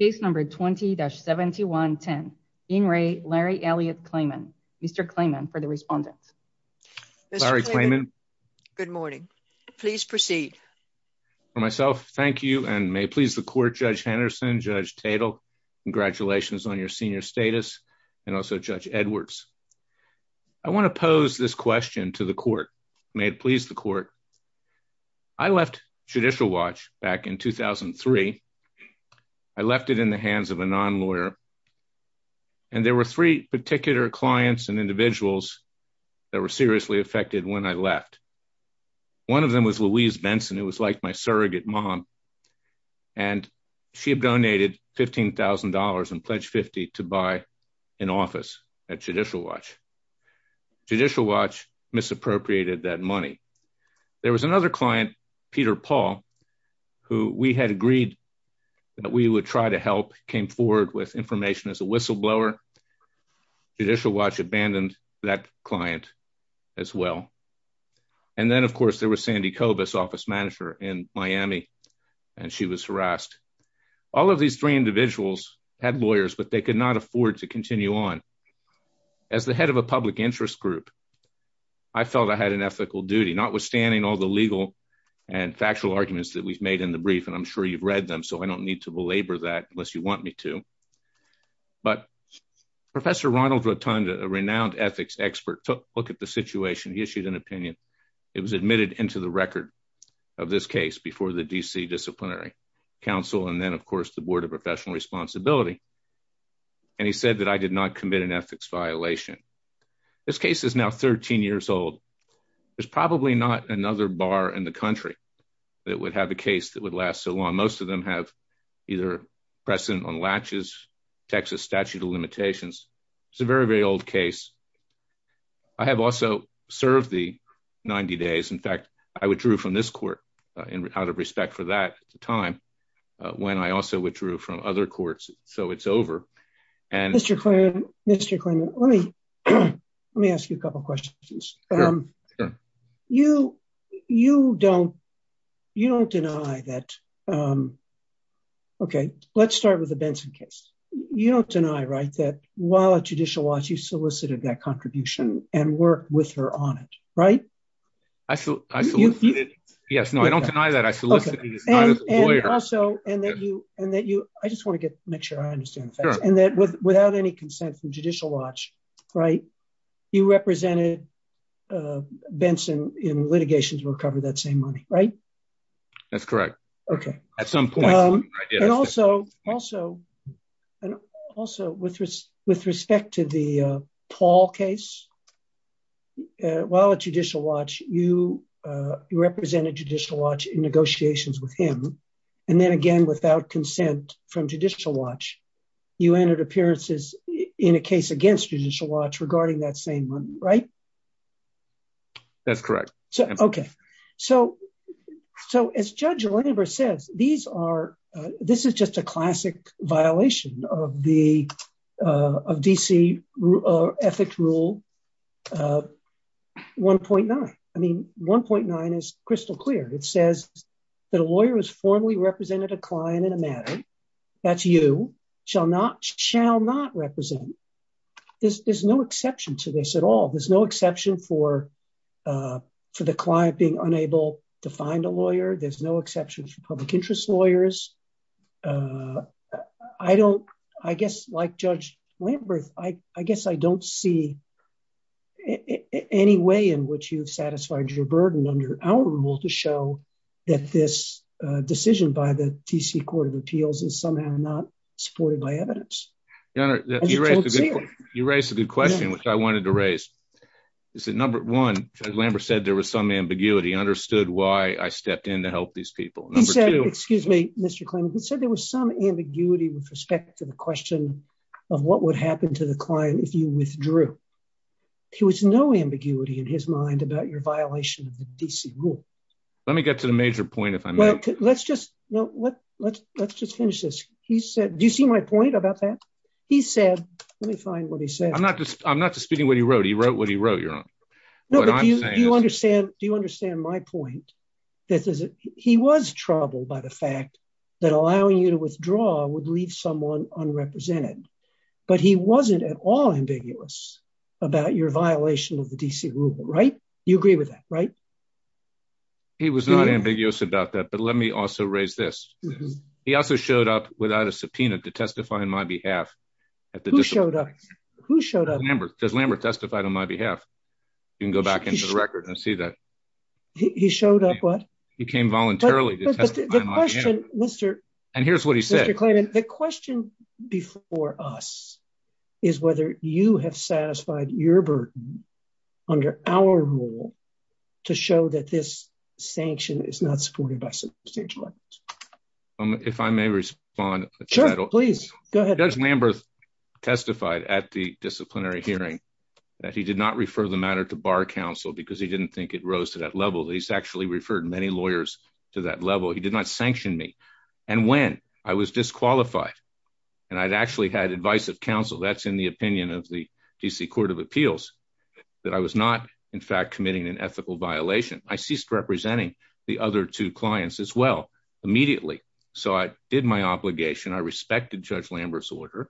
Case number 20-7110. In re, Larry Elliot Klayman. Mr. Klayman, for the respondent. Mr. Klayman. Larry Klayman. Good morning. Please proceed. For myself, thank you, and may it please the court, Judge Henderson, Judge Tatel, congratulations on your senior status, and also Judge Edwards. I want to pose this question to the court. May it please the court. I left Judicial Watch back in 2003, I left it in the hands of a non-lawyer, and there were three particular clients and individuals that were seriously affected when I left. One of them was Louise Benson, who was like my surrogate mom, and she had donated $15,000 and pledged 50 to buy an office at Judicial Watch. Judicial Watch misappropriated that money. There was another client, Peter Paul, who we had agreed that we would try to help, came forward with information as a whistleblower. Judicial Watch abandoned that client as well. And then of course, there was Sandy Kovas, office manager in Miami, and she was harassed. All of these three individuals had lawyers, but they could not afford to continue on. As the head of a public interest group, I felt I had an ethical duty, notwithstanding all the legal and factual arguments that we've made in the brief, and I'm sure you've read them, so I don't need to belabor that unless you want me to. But Professor Ronald Rotunda, a renowned ethics expert, took a look at the situation. He issued an opinion. It was admitted into the record of this case before the D.C. Disciplinary Council, and then of course, the Board of Professional Responsibility. And he said that I did not commit an ethics violation. This case is now 13 years old. There's probably not another bar in the country that would have a case that would last so long. Most of them have either precedent on latches, Texas statute of limitations. It's a very, very old case. I have also served the 90 days. In fact, I withdrew from this court out of respect for that time, when I also withdrew from other courts. So it's over, and- Mr. Klinman, let me ask you a couple of questions. You don't deny that, okay, let's start with the Benson case. You don't deny, right, that while at judicial watch, you solicited that contribution and worked with her on it, right? I solicited, yes, no, I don't deny that. I solicited it as a lawyer. I just want to make sure I understand the facts, and that without any consent from judicial watch, right, you represented Benson in litigation to recover that same money, right? That's correct. Okay. At some point. And also, with respect to the Paul case, while at judicial watch, you represented judicial watch in negotiations with him. And then again, without consent from judicial watch, you entered appearances in a case against judicial watch regarding that same one, right? That's correct. Okay. So, as Judge Lambert says, these are, this is just a classic violation of the, of D.C. Ethics Rule 1.9. I mean, 1.9 is crystal clear. It says that a lawyer is formally represented a client in a matter. That's you, shall not represent. There's no exception to this at all. There's no exception for the client being unable to find a lawyer. There's no exceptions for public interest lawyers. I don't, I guess, like Judge Lambert, I guess I don't see any way in which you've satisfied your burden under our rule to show that this decision by the D.C. Court of Appeals is somehow not supported by evidence. Your Honor, you raised a good question, which I wanted to raise. Is that number one, Judge Lambert said there was some ambiguity, understood why I stepped in to help these people. Number two- He said, excuse me, Mr. Clement, he said there was some ambiguity with respect to the question of what would happen to the client if you withdrew. There was no ambiguity in his mind about your violation of the D.C. rule. Let me get to the major point if I may. Let's just, no, let's just finish this. He said, do you see my point about that? He said, let me find what he said. I'm not disputing what he wrote. He wrote what he wrote, Your Honor. No, but do you understand my point? This is, he was troubled by the fact that allowing you to withdraw would leave someone unrepresented, but he wasn't at all ambiguous about your violation of the D.C. rule, right? You agree with that, right? He was not ambiguous about that, but let me also raise this. He also showed up without a subpoena to testify on my behalf at the- Who showed up? Who showed up? Lambert, Judge Lambert testified on my behalf. You can go back into the record and see that. He showed up what? He came voluntarily to testify on my behalf. And here's what he said- Mr. Clement, the question before us is whether you have satisfied your burden under our rule to show that this sanction is not supported by substantial evidence. If I may respond- Sure, please, go ahead. Judge Lambert testified at the disciplinary hearing that he did not refer the matter to bar counsel because he didn't think it rose to that level. He's actually referred many lawyers to that level. He did not sanction me. And when I was disqualified and I'd actually had advice of counsel, that's in the opinion of the DC Court of Appeals, that I was not in fact committing an ethical violation, I ceased representing the other two clients as well, immediately. So I did my obligation. I respected Judge Lambert's order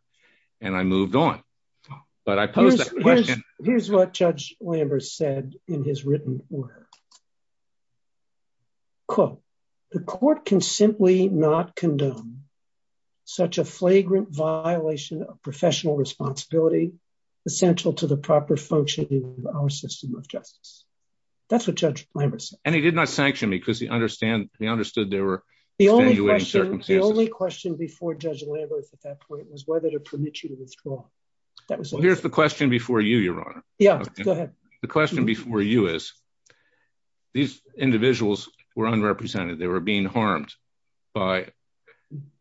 and I moved on. But I posed that question- Here's what Judge Lambert said in his written order. Quote, the court can simply not condone such a flagrant violation of professional responsibility essential to the proper functioning of our system of justice. That's what Judge Lambert said. And he did not sanction me because he understood there were- The only question before Judge Lambert at that point was whether to permit you to withdraw. That was- Well, here's the question before you, Your Honor. Yeah, go ahead. The question before you is, these individuals were unrepresented. They were being harmed by,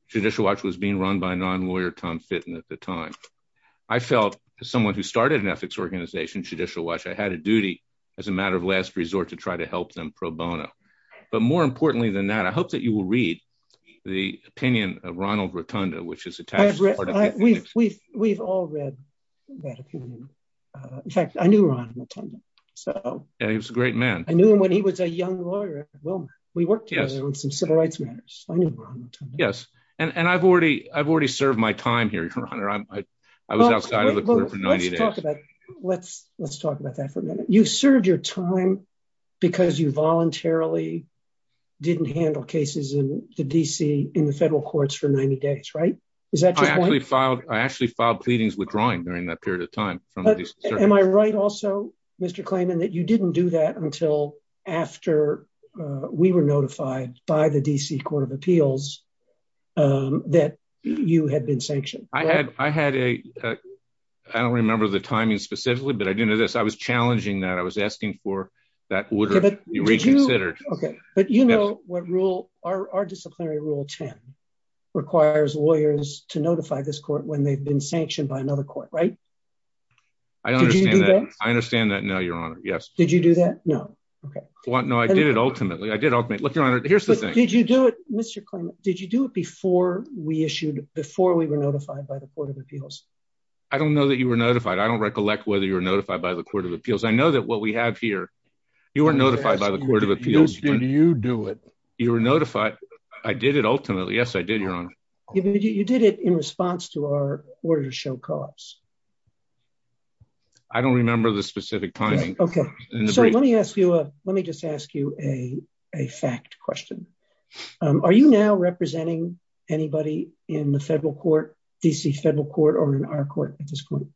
Judicial Watch was being run by non-lawyer, Tom Fitton at the time. I felt, as someone who started an ethics organization, Judicial Watch, I had a duty as a matter of last resort to try to help them pro bono. But more importantly than that, I hope that you will read the opinion of Ronald Rotunda, which is attached to the Court of Appeals. We've all read that opinion. In fact, I knew Ronald Rotunda. So- Yeah, he was a great man. I knew him when he was a young lawyer at Wilmer. We worked together on some civil rights matters. I knew Ronald Rotunda. Yes. And I've already served my time here, Your Honor. I was outside of the court for 90 days. Let's talk about that for a minute. You served your time because you voluntarily didn't handle cases in the D.C., in the federal courts for 90 days, right? Is that your point? I actually filed pleadings withdrawing during that period of time from the D.C. Circuit. Am I right also, Mr. Klayman, that you didn't do that until after we were notified by the D.C. Court of Appeals that you had been sanctioned? I had a, I don't remember the timing specifically, but I do know this. I was challenging that. I was asking for that order to be reconsidered. Okay, but you know what rule, our disciplinary rule 10 requires lawyers to notify this court when they've been sanctioned by another court, right? Did you do that? I understand that now, Your Honor. Did you do that? No, okay. No, I did it ultimately. I did ultimately. Look, Your Honor, here's the thing. Did you do it, Mr. Klayman, did you do it before we issued, before we were notified by the Court of Appeals? I don't know that you were notified. I don't recollect whether you were notified by the Court of Appeals. I know that what we have here, you were notified by the Court of Appeals. Did you do it? You were notified. I did it ultimately. Yes, I did, Your Honor. You did it in response to our order to show cops. I don't remember the specific timing. So let me just ask you a fact question. Are you now representing anybody in the federal court, D.C. federal court, or in our court at this point?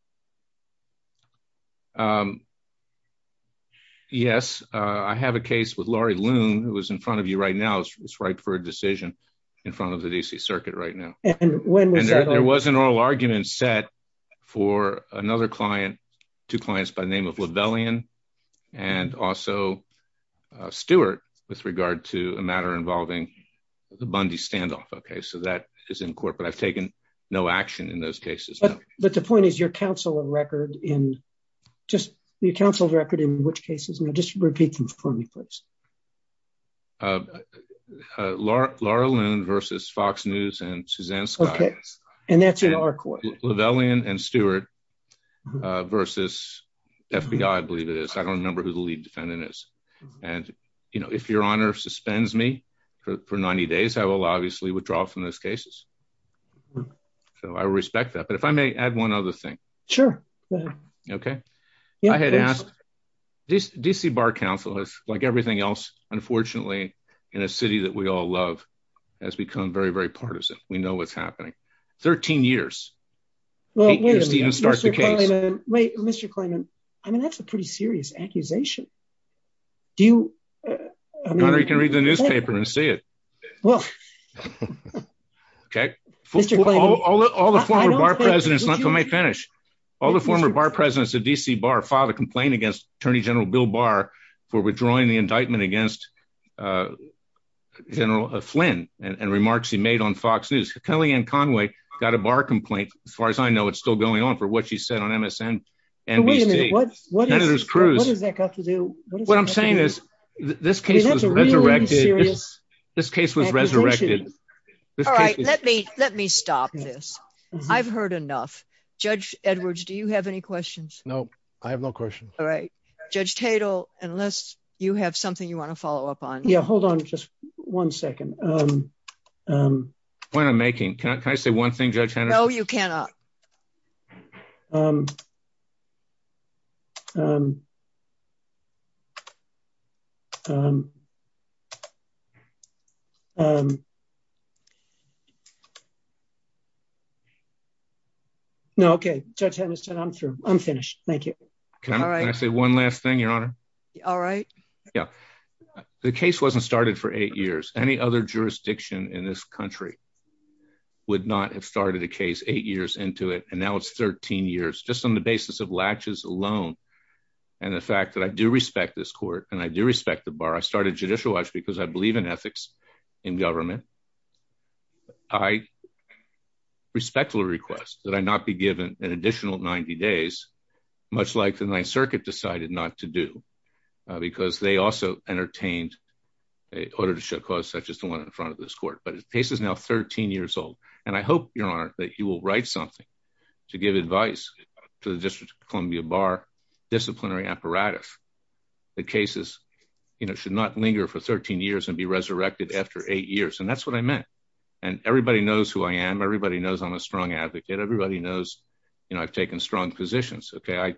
Yes, I have a case with Laurie Loon, who is in front of you right now. It's ripe for a decision in front of the D.C. Circuit right now. And when was that? And there was an oral argument set for another client, two clients by the name of Lavellian and also Stewart with regard to a matter involving the Bundy standoff. Okay, so that is in court, but I've taken no action in those cases. But the point is your counsel of record in, just your counsel of record in which cases? Now just repeat them for me, please. Laurie Loon versus Fox News and Suzanne Scott. And that's in our court. Lavellian and Stewart versus FBI, I believe it is. I don't remember who the lead defendant is. And if your honor suspends me for 90 days, I will obviously withdraw from those cases. So I respect that. But if I may add one other thing. Sure, go ahead. Okay. I had asked, D.C. Bar Council, like everything else, unfortunately, in a city that we all love has become very, very partisan. We know what's happening. 13 years. Well, wait a minute, Mr. Klayman. Wait, Mr. Klayman. I mean, that's a pretty serious accusation. Do you, I mean- Your honor, you can read the newspaper and see it. Well. Okay. Mr. Klayman. All the former Bar Presidents, let me finish. All the former Bar Presidents of D.C. Bar filed a complaint against Attorney General Bill Barr for withdrawing the indictment against General Flynn and remarks he made on Fox News. Kellyanne Conway got a Barr complaint. As far as I know, it's still going on for what she said on MSN-NBC. Wait a minute. What is that got to do? What I'm saying is this case was resurrected. This case was resurrected. All right, let me stop this. I've heard enough. Judge Edwards, do you have any questions? No, I have no questions. All right. Judge Tatel, unless you have something you want to follow up on. Yeah, hold on just one second. Point I'm making, can I say one thing, Judge Henderson? No, you cannot. No, okay. Judge Henderson, I'm through. I'm finished. Thank you. Can I say one last thing, Your Honor? All right. Yeah. The case wasn't started for eight years. Any other jurisdiction in this country would not have started a case eight years into it, and now it's 13 years, just on the basis of latches alone. And the fact that I do respect this court, and I do respect the Barr. I started Judicial Watch because I believe in ethics in government. I respectfully request that I not be given an additional 90 days, much like the Ninth Circuit decided not to do, because they also entertained an order to show cause such as the one in front of this court. But the case is now 13 years old. And I hope, Your Honor, that you will write something to give advice to the District of Columbia Barr disciplinary apparatus. The cases should not linger for 13 years and be resurrected after eight years. And that's what I meant. And everybody knows who I am. Everybody knows I'm a strong advocate. Everybody knows I've taken strong positions. Okay,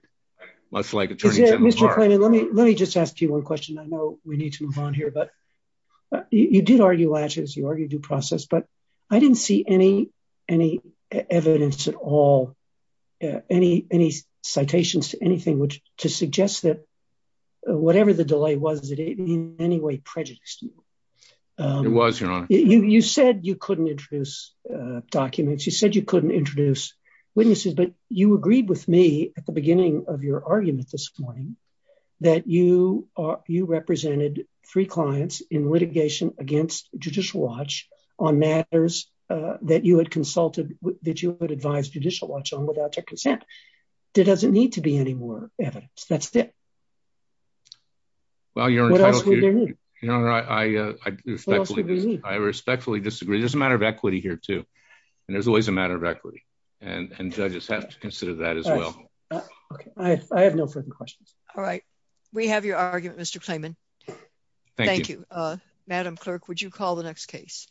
much like Attorney General Barr. Mr. Klayman, let me just ask you one question. I know we need to move on here, but you did argue latches, you argued due process, but I didn't see any evidence at all, any citations to anything to suggest that whatever the delay was, that it in any way prejudiced you. It was, Your Honor. You said you couldn't introduce documents. You said you couldn't introduce witnesses, but you agreed with me at the beginning of your argument this morning that you represented three clients in litigation against Judicial Watch on matters that you had consulted, that you had advised Judicial Watch on without their consent. There doesn't need to be any more evidence. That's it. Well, Your Honor, I respectfully disagree. There's a matter of equity here too. And there's always a matter of equity and judges have to consider that as well. Okay, I have no further questions. We have your argument, Mr. Klayman. Thank you. Madam Clerk, would you call the next case?